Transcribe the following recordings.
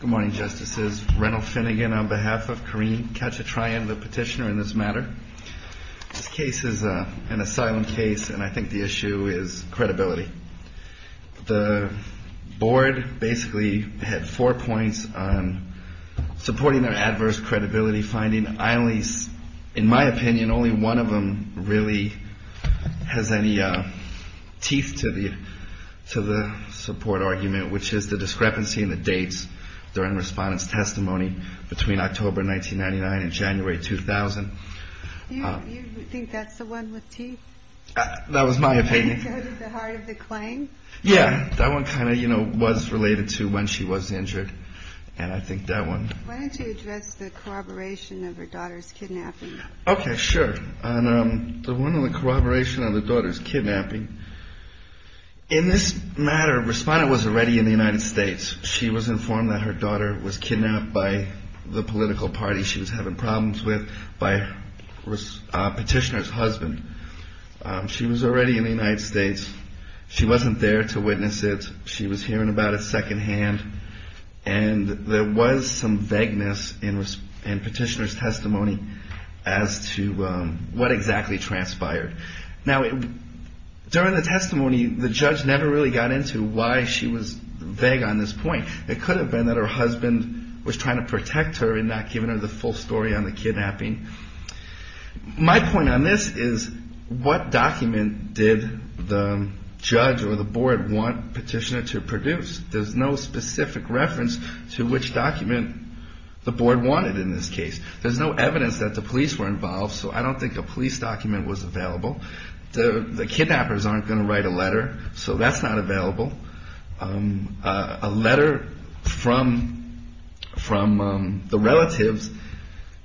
Good morning, Justices. Reynold Finnegan on behalf of Kareem Kachatryan, the petitioner in this matter. This case is an asylum case and I think the issue is credibility. The board basically had four points on supporting their adverse credibility finding. In my opinion, only one of them really has any teeth to the support argument, which is the discrepancy in the dates during respondents' testimony between October 1999 and January 2000. You think that's the one with teeth? That was my opinion. The one at the heart of the claim? Yeah, that one kind of was related to when she was injured and I think that one. Why don't you address the corroboration of her daughter's kidnapping? Okay, sure. The one on the corroboration of the daughter's kidnapping. In this matter, a respondent was already in the United States. She was informed that her daughter was kidnapped by the political party she was having problems with by a petitioner's husband. She was already in the United States. She wasn't there to witness it. She was hearing about it secondhand and there was some vagueness in petitioner's testimony as to what exactly transpired. Now, during the testimony, the judge never really got into why she was vague on this point. It could have been that her husband was trying to protect her and not giving her the full story on the kidnapping. My point on this is what document did the judge or the board want petitioner to produce? There's no specific reference to which document the board wanted in this case. There's no evidence that the police were involved, so I don't think a police document was available. The kidnappers aren't going to write a letter, so that's not available. A letter from the relatives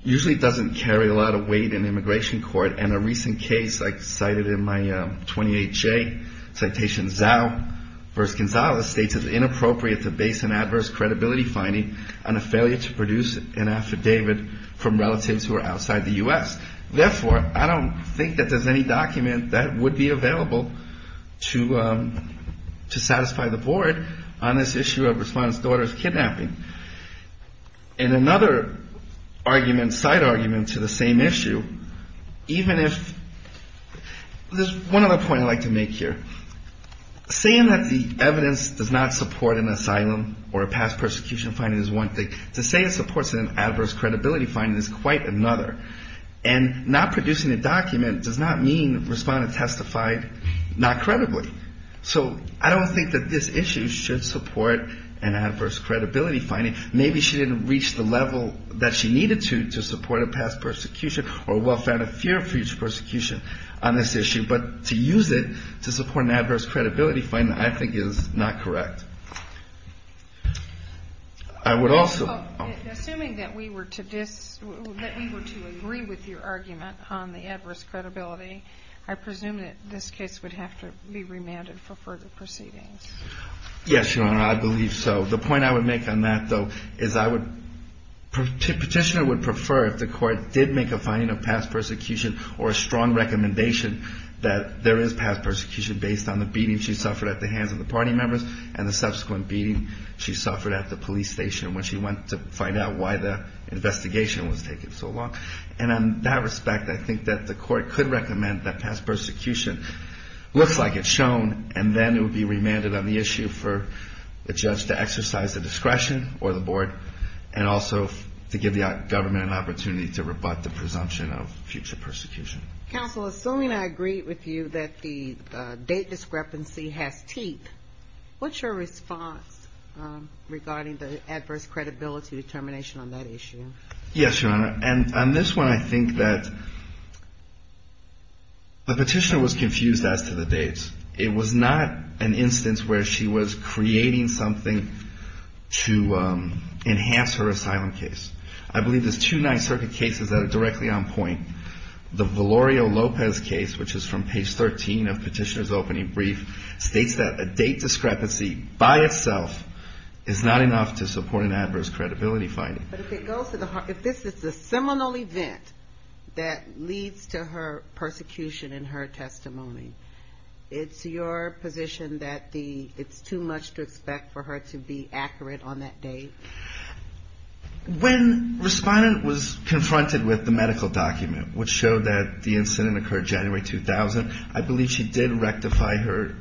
usually doesn't carry a lot of weight in immigration court. In a recent case, I cited in my 28-J citation, Zao v. Gonzalez states it's inappropriate to base an adverse credibility finding on a failure to produce an affidavit from relatives who are outside the U.S. Therefore, I don't think that there's any document that would be available to satisfy the board on this issue of respondent's daughter's kidnapping. And another argument, side argument to the same issue, even if, there's one other point I'd like to make here. Saying that the evidence does not support an asylum or a past persecution finding is one thing. To say it supports an adverse credibility finding is quite another. And not producing a document does not mean respondent testified not credibly. So I don't think that this issue should support an adverse credibility finding. Maybe she didn't reach the level that she needed to to support a past persecution or well-founded fear of future persecution on this issue. But to use it to support an adverse credibility finding I think is not correct. Assuming that we were to agree with your argument on the adverse credibility, I presume that this case would have to be remanded for further proceedings. Yes, Your Honor, I believe so. The point I would make on that, though, is I would, petitioner would prefer if the court did make a finding of past persecution or a strong recommendation that there is past persecution based on the beating she suffered at the hands of the party members and the subsequent beating she suffered at the police station when she went to find out why the investigation was taking so long. And in that respect, I think that the court could recommend that past persecution looks like it's shown and then it would be remanded on the issue for the judge to exercise the discretion or the board and also to give the government an opportunity to rebut the presumption of future persecution. Counsel, assuming I agree with you that the date discrepancy has teeth, what's your response regarding the adverse credibility determination on that issue? Yes, Your Honor, and on this one I think that the petitioner was confused as to the dates. It was not an instance where she was creating something to enhance her asylum case. I believe there's two Ninth Circuit cases that are directly on point. The Valerio Lopez case, which is from page 13 of petitioner's opening brief, states that a date discrepancy by itself is not enough to support an adverse credibility finding. But if this is the seminal event that leads to her persecution in her testimony, it's your position that it's too much to expect for her to be accurate on that date? When Respondent was confronted with the medical document which showed that the incident occurred January 2000, I believe she did rectify her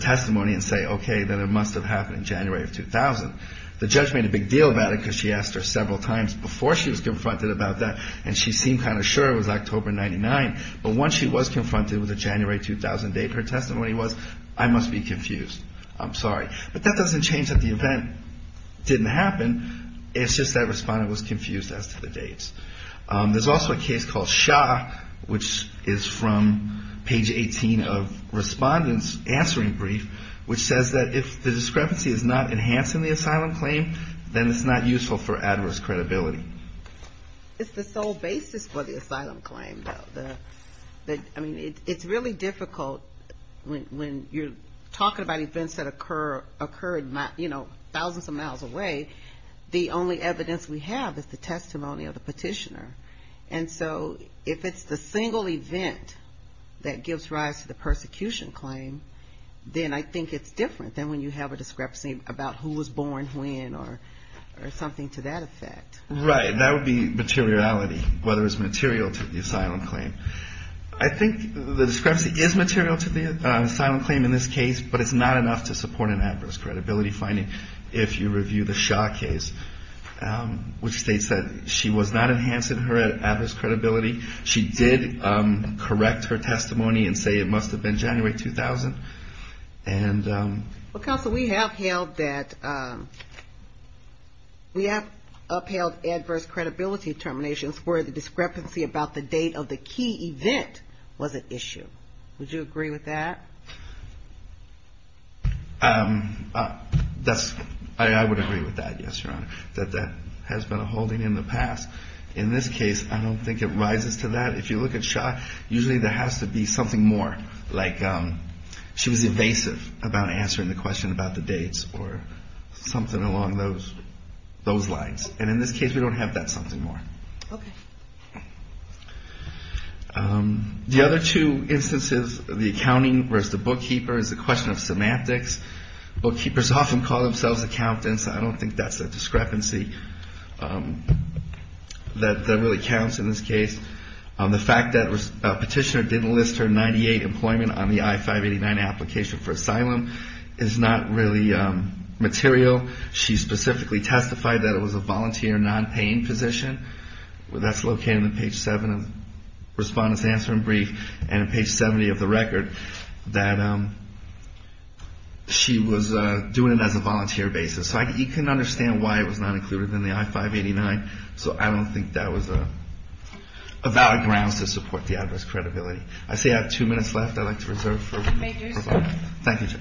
testimony and say, okay, then it must have happened in January of 2000. The judge made a big deal about it because she asked her several times before she was confronted about that and she seemed kind of sure it was October 99, but once she was confronted with the January 2008 her testimony was, I must be confused. I'm sorry. But that doesn't change that the event didn't happen. It's just that Respondent was confused as to the dates. There's also a case called Shaw, which is from page 18 of Respondent's answering brief, which says that if the discrepancy is not enhancing the asylum claim, then it's not useful for adverse credibility. It's the sole basis for the asylum claim, though. It's really difficult when you're talking about events that occurred thousands of miles away. The only evidence we have is the testimony of the petitioner. And so if it's the single event that gives rise to the persecution claim, then I think it's different than when you have a discrepancy about who was born when or something to that effect. That would be materiality, whether it's material to the asylum claim. I think the discrepancy is material to the asylum claim in this case, but it's not enough to support an adverse credibility finding if you review the Shaw case, which states that she was not enhancing her adverse credibility. She did correct her testimony and say it must have been January 2000. Well, Counsel, we have upheld adverse credibility determinations where the discrepancy about the date of the key event was at issue. Would you agree with that? I would agree with that, yes, Your Honor, that that has been a holding in the past. In this case, I don't think it rises to that. If you look at Shaw, usually there has to be something more, like she was evasive about answering the question about the dates or something along those lines. And in this case, we don't have that something more. The other two instances, the accounting versus the bookkeeper, is the question of semantics. Bookkeepers often call themselves accountants. I don't think that's a discrepancy that really counts in this case. The fact that Petitioner didn't list her 98 employment on the I-589 application for asylum is not really material. She specifically testified that it was a volunteer, non-paying position. That's located on page 7 of the Respondent's Answer in Brief and page 70 of the record, that she was doing it as a volunteer basis. So you can understand why it was not included in the I-589. So I don't think that was a valid grounds to support the address credibility. I see I have two minutes left I'd like to reserve. Thank you, Judge.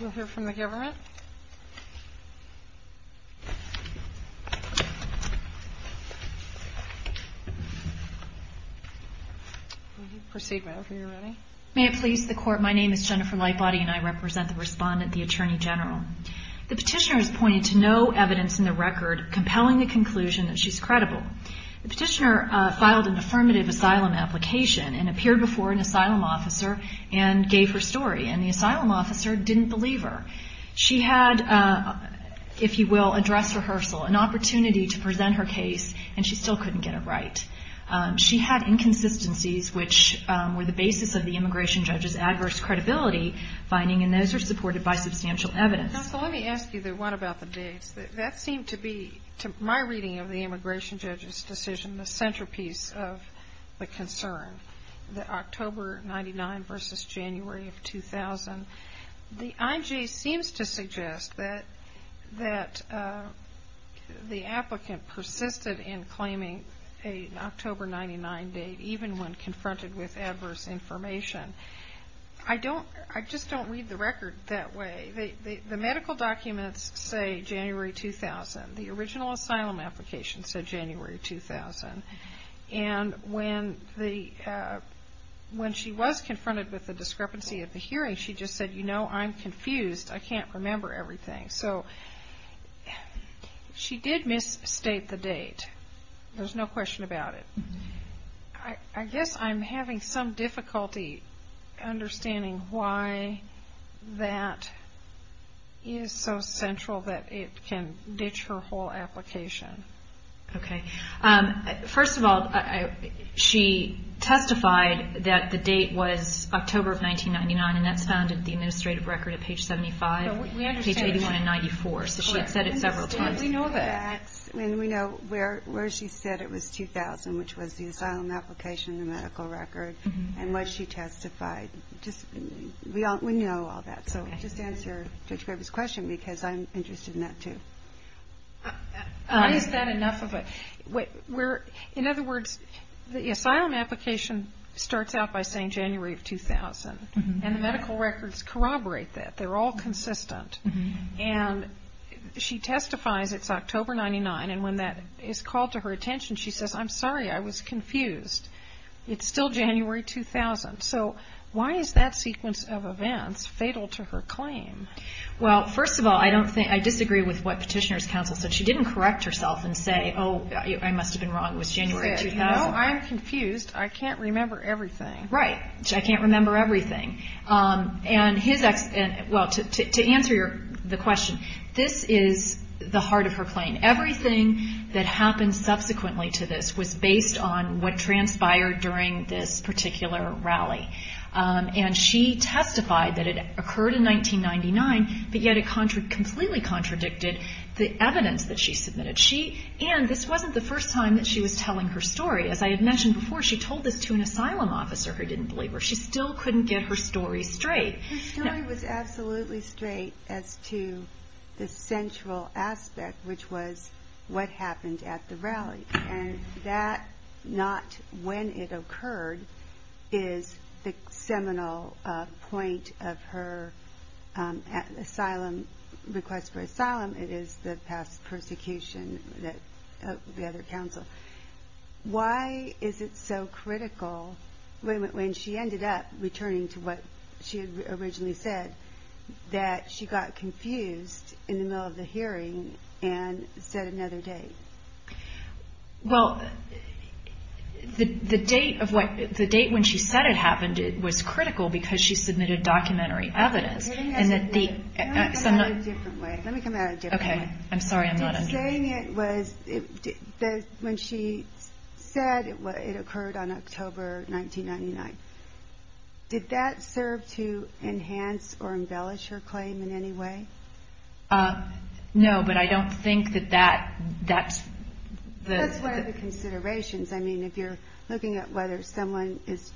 You'll hear from the government. Proceed, ma'am, if you're ready. May it please the Court, my name is Jennifer Lightbody and I represent the Respondent, the Attorney General. The Petitioner has pointed to no evidence in the record compelling the conclusion that she's credible. The Petitioner filed an affirmative asylum application and appeared before an asylum officer and gave her story. And the asylum officer didn't believe her. She had, if you will, a dress rehearsal, an opportunity to present her case, and she still couldn't get it right. She had inconsistencies which were the basis of the immigration judge's adverse credibility finding, and those are supported by substantial evidence. Now, so let me ask you the one about the dates. That seemed to be, to my reading of the immigration judge's decision, the centerpiece of the concern, the October 99 versus January of 2000. The IJ seems to suggest that the applicant persisted in claiming an October 99 date, even when confronted with adverse information. I just don't read the record that way. The medical documents say January 2000. The original asylum application said January 2000. And when she was confronted with the discrepancy of the hearing, she just said, you know, I'm confused. I can't remember everything. So she did misstate the date. There's no question about it. I guess I'm having some difficulty understanding why that is so central that it can ditch her whole application. Okay. First of all, she testified that the date was October of 1999, and that's found in the administrative record at page 75, page 81 and 94. So she had said it several times. We know where she said it was 2000, which was the asylum application, the medical record, and what she testified. We know all that. So just to answer Judge Graber's question, because I'm interested in that, too. Why is that enough of a... In other words, the asylum application starts out by saying January of 2000, and the medical records corroborate that. They're all consistent. And she testifies it's October 99, and when that is called to her attention, she says, I'm sorry, I was confused. It's still January 2000. So why is that sequence of events fatal to her claim? Well, first of all, I disagree with what Petitioner's Counsel said. She didn't correct herself and say, oh, I must have been wrong, it was January 2000. No, I'm confused. I can't remember everything. Right. I can't remember everything. Well, to answer the question, this is the heart of her claim. Everything that happened subsequently to this was based on what transpired during this particular rally. And she testified that it occurred in 1999, but yet it completely contradicted the evidence that she submitted. And this wasn't the first time that she was telling her story. As I had mentioned before, she told this to an asylum officer who didn't believe her. She still couldn't get her story straight. Her story was absolutely straight as to the central aspect, which was what happened at the rally. And that, not when it occurred, is the seminal point of her request for asylum. It is the past persecution of the other counsel. Why is it so critical, when she ended up returning to what she had originally said, that she got confused in the middle of the hearing and set another date? Well, the date when she said it happened was critical because she submitted documentary evidence. Let me come at it a different way. When she said it occurred on October 1999, did that serve to enhance or embellish her claim in any way? No, but I don't think that that's the... That's one of the considerations. If you're looking at whether someone is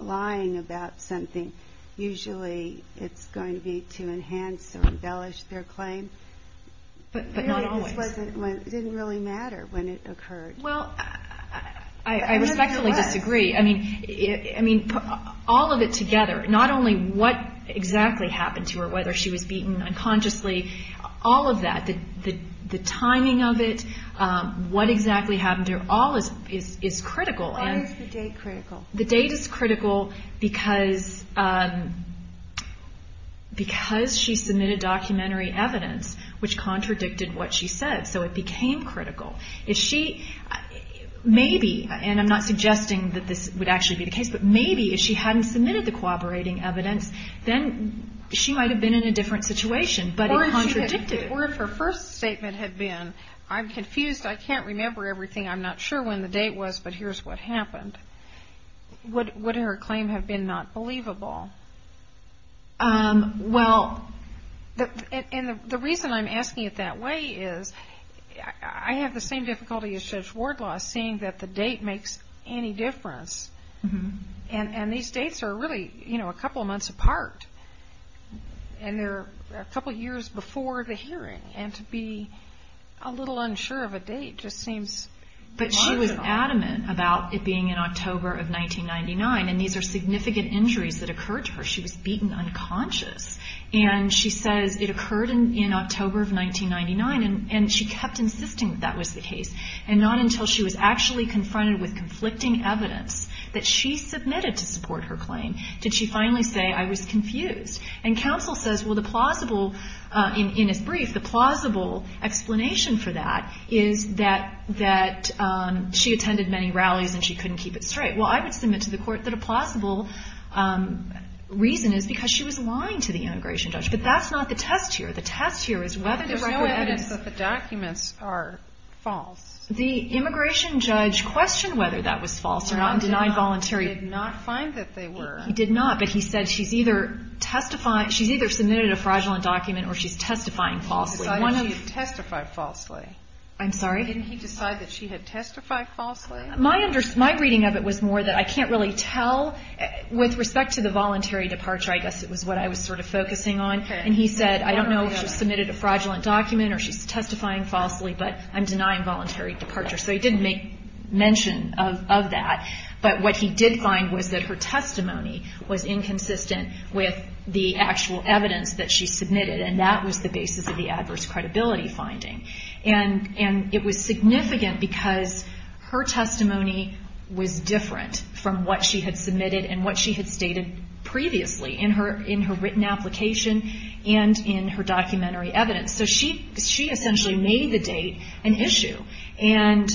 lying about something, usually it's going to be to enhance or embellish their claim. But not always. I respectfully disagree. All of it together, not only what exactly happened to her, whether she was beaten unconsciously, all of that, the timing of it, what exactly happened to her, all is critical. Why is the date critical? The date is critical because she submitted documentary evidence which contradicted what she said. So it became critical. Maybe, and I'm not suggesting that this would actually be the case, but maybe if she hadn't submitted the cooperating evidence, then she might have been in a different situation, but it contradicted it. Or if her first statement had been, I'm confused, I can't remember everything, I'm not sure when the date was, but here's what happened, would her claim have been not believable? Well, and the reason I'm asking it that way is I have the same difficulty as Judge Wardlaw seeing that the date makes any difference, and these dates are really a couple of months apart, and they're a couple of years before the hearing, and to be a little unsure of a date just seems... But she was adamant about it being in October of 1999, and these are significant injuries that occurred to her, she was beaten unconscious, and she says it occurred in October of 1999, and she kept insisting that that was the case, and not until she was actually confronted with conflicting evidence that she submitted to support her claim did she finally say, I was confused. And counsel says, well, the plausible, in its brief, the plausible explanation for that is that she attended many rallies and she couldn't keep it straight. Well, I would submit to the court that a plausible reason is because she was lying to the immigration judge, but that's not the test here. The test here is whether the record evidence... He did not, but he said she's either submitted a fraudulent document or she's testifying falsely. My reading of it was more that I can't really tell, with respect to the voluntary departure, I guess it was what I was sort of focusing on, and he said, I don't know if she submitted a fraudulent document or she's testifying falsely, but I'm denying voluntary departure. But what he did find was that her testimony was inconsistent with the actual evidence that she submitted, and that was the basis of the adverse credibility finding. And it was significant because her testimony was different from what she had submitted and what she had stated previously in her written application and in her documentary evidence. So she essentially made the date an issue. And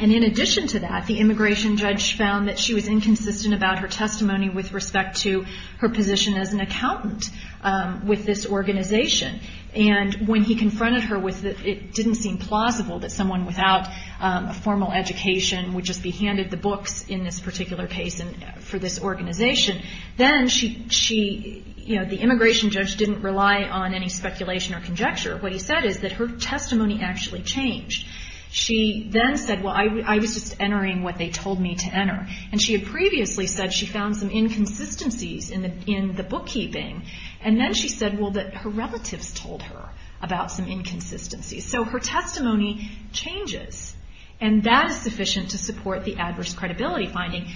in addition to that, the immigration judge found that she was inconsistent about her testimony with respect to her position as an accountant with this organization. And when he confronted her with it didn't seem plausible that someone without a formal education would just be handed the books in this particular case for this organization, then the immigration judge didn't rely on any speculation or conjecture. What he said is that her testimony actually changed. She then said, well, I was just entering what they told me to enter. And she had previously said she found some inconsistencies in the bookkeeping, and then she said, well, that her relatives told her about some inconsistencies. So her testimony changes, and that is sufficient to support the adverse credibility finding,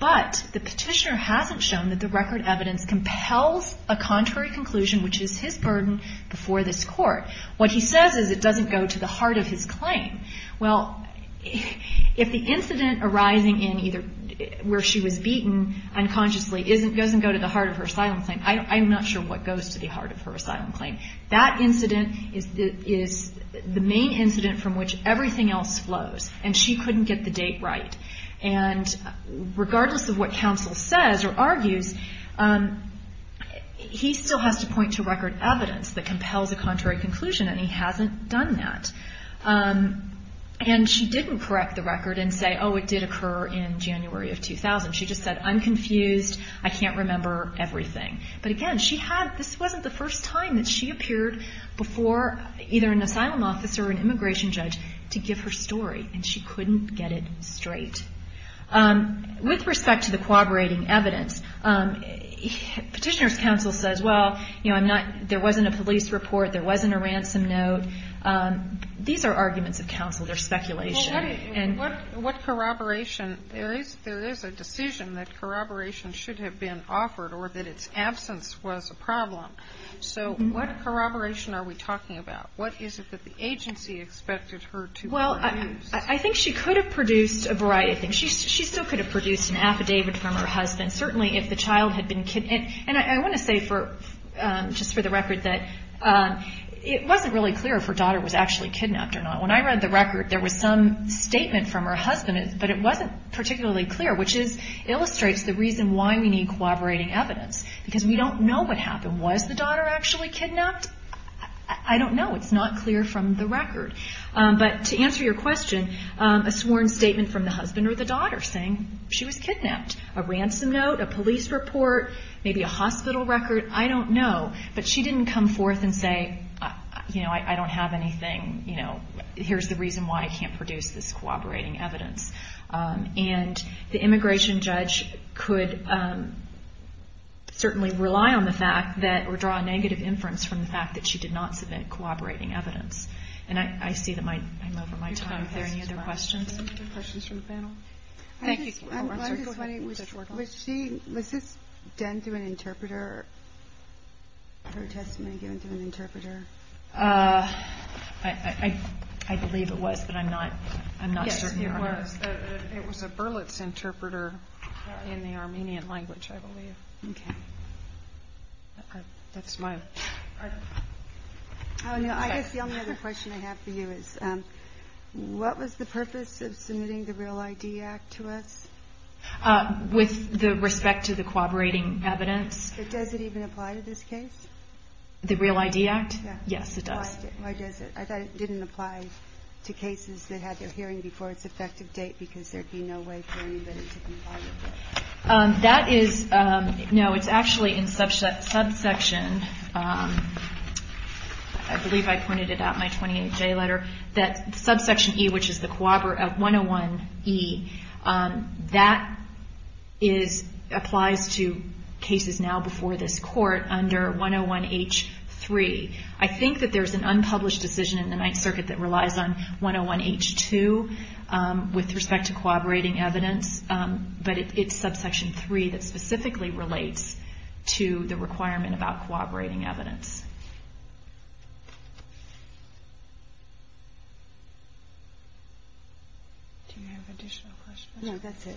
but the petitioner hasn't shown that the record evidence compels a contrary conclusion, which is his burden before this court. What he says is it doesn't go to the heart of his claim. Well, if the incident arising in either where she was beaten unconsciously doesn't go to the heart of her asylum claim, I'm not sure what goes to the heart of her asylum claim. That incident is the main incident from which everything else flows, and she couldn't get the date right. And regardless of what counsel says or argues, he still has to point to record evidence that compels a contrary conclusion, and he hasn't done that. And she didn't correct the record and say, oh, it did occur in January of 2000. She just said, I'm confused, I can't remember everything. But again, this wasn't the first time that she appeared before either an asylum officer or an immigration judge to give her story, and she couldn't get it straight. With respect to the corroborating evidence, petitioner's counsel says, well, there wasn't a police report, there wasn't a ransom note. These are arguments of counsel, they're speculation. There is a decision that corroboration should have been offered or that its absence was a problem. So what corroboration are we talking about? What is it that the agency expected her to produce? Well, I think she could have produced a variety of things. She still could have produced an affidavit from her husband, certainly if the child had been kidnapped. And I want to say just for the record that it wasn't really clear if her daughter was actually kidnapped or not. When I read the record, there was some statement from her husband, but it wasn't particularly clear, which illustrates the reason why we need corroborating evidence, because we don't know what happened. Was the daughter actually kidnapped? I don't know, it's not clear from the record. But to answer your question, a sworn statement from the husband or the daughter saying she was kidnapped. A ransom note, a police report, maybe a hospital record, I don't know. But she didn't come forth and say, you know, I don't have anything. Here's the reason why I can't produce this corroborating evidence. And the immigration judge could certainly rely on the fact that or draw a negative inference from the fact that she did not submit corroborating evidence. And I see that I'm over my time. Are there any other questions? Was this done through an interpreter, her testimony given through an interpreter? I believe it was, but I'm not certain. Yes, it was. It was a Berlitz interpreter in the Armenian language, I believe. Okay. I guess the only other question I have for you is, what was the purpose of submitting the Real ID Act to us? With respect to the corroborating evidence. Does it even apply to this case? The Real ID Act? Yes, it does. Why does it? I thought it didn't apply to cases that had their hearing before its effective date because there'd be no way for anybody to comply with it. That is, no, it's actually in subsection, I believe I pointed it out in my 28-J letter, that subsection E, which is the co-operative 101E, that is, applies to cases now being held before this Court under 101H3. I think that there's an unpublished decision in the Ninth Circuit that relies on 101H2 with respect to co-operating evidence, but it's subsection 3 that specifically relates to the requirement about co-operating evidence. Do you have additional questions? No, that's it.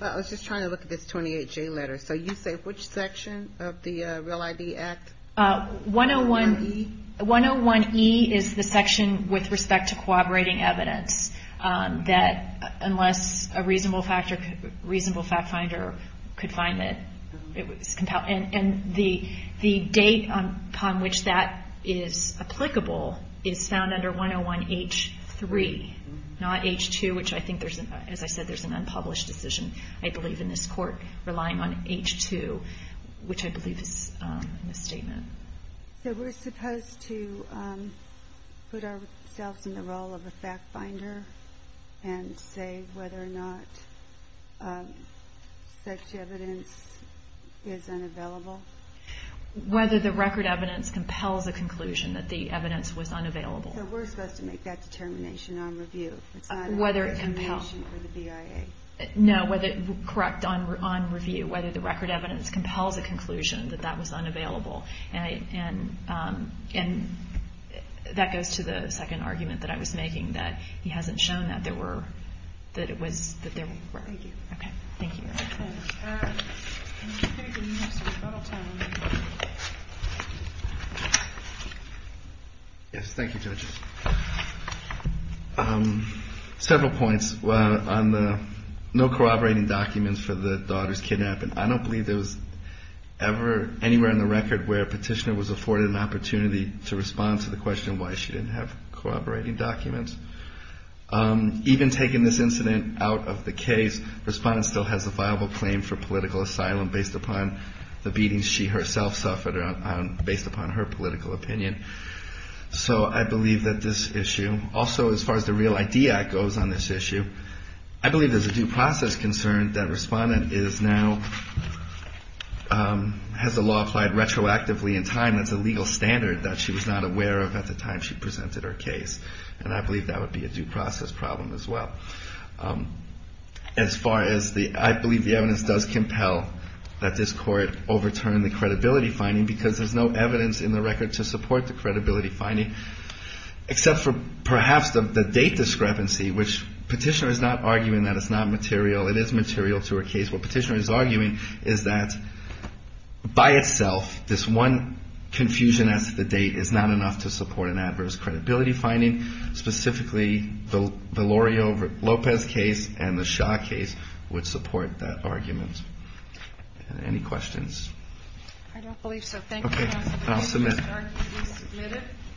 I was just trying to look at this 28-J letter. So you say which section of the Real ID Act? 101E is the section with respect to co-operating evidence that, unless a reasonable fact finder could find it, and the date upon which that is applicable is found under 101H3, not H2, which I think, as I said, there's an unpublished decision, I believe, in this Court relying on H2, which I believe is a misstatement. So we're supposed to put ourselves in the role of a fact finder and say whether or not such evidence is unavailable? Whether the record evidence compels a conclusion that the evidence was unavailable. So we're supposed to make that determination on review. It's not a determination for the BIA. No, correct, on review, whether the record evidence compels a conclusion that that was unavailable. And that goes to the second argument that I was making, that he hasn't shown that there were, that it was, that there were. Thank you. Yes, thank you, Judge. Several points on the no co-operating documents for the daughter's kidnapping. I don't believe there was ever anywhere in the record where a petitioner was afforded an opportunity to respond to the question why she didn't have co-operating documents. Even taking this incident out of the case, Respondent still has a viable claim for political asylum based upon the beatings she herself suffered, based upon her political opinion. So I believe that this issue, also as far as the Real ID Act goes on this issue, I believe there's a due process concern that Respondent is now, has the law applied retroactively in time, that's a legal standard that she was not aware of at the time she presented her case. And I believe that would be a due process problem as well. As far as the, I believe the evidence does compel that this court overturn the credibility finding because there's no evidence in the record to support the credibility finding, except for perhaps the date discrepancy, which petitioner is not arguing that it's not material, it is material to her case. What petitioner is arguing is that, by itself, this one confusion as to the date is not enough to support an adverse credibility finding, specifically the Loreo Lopez case and the Shaw case would support that argument. Any questions? I don't believe so. Thank you.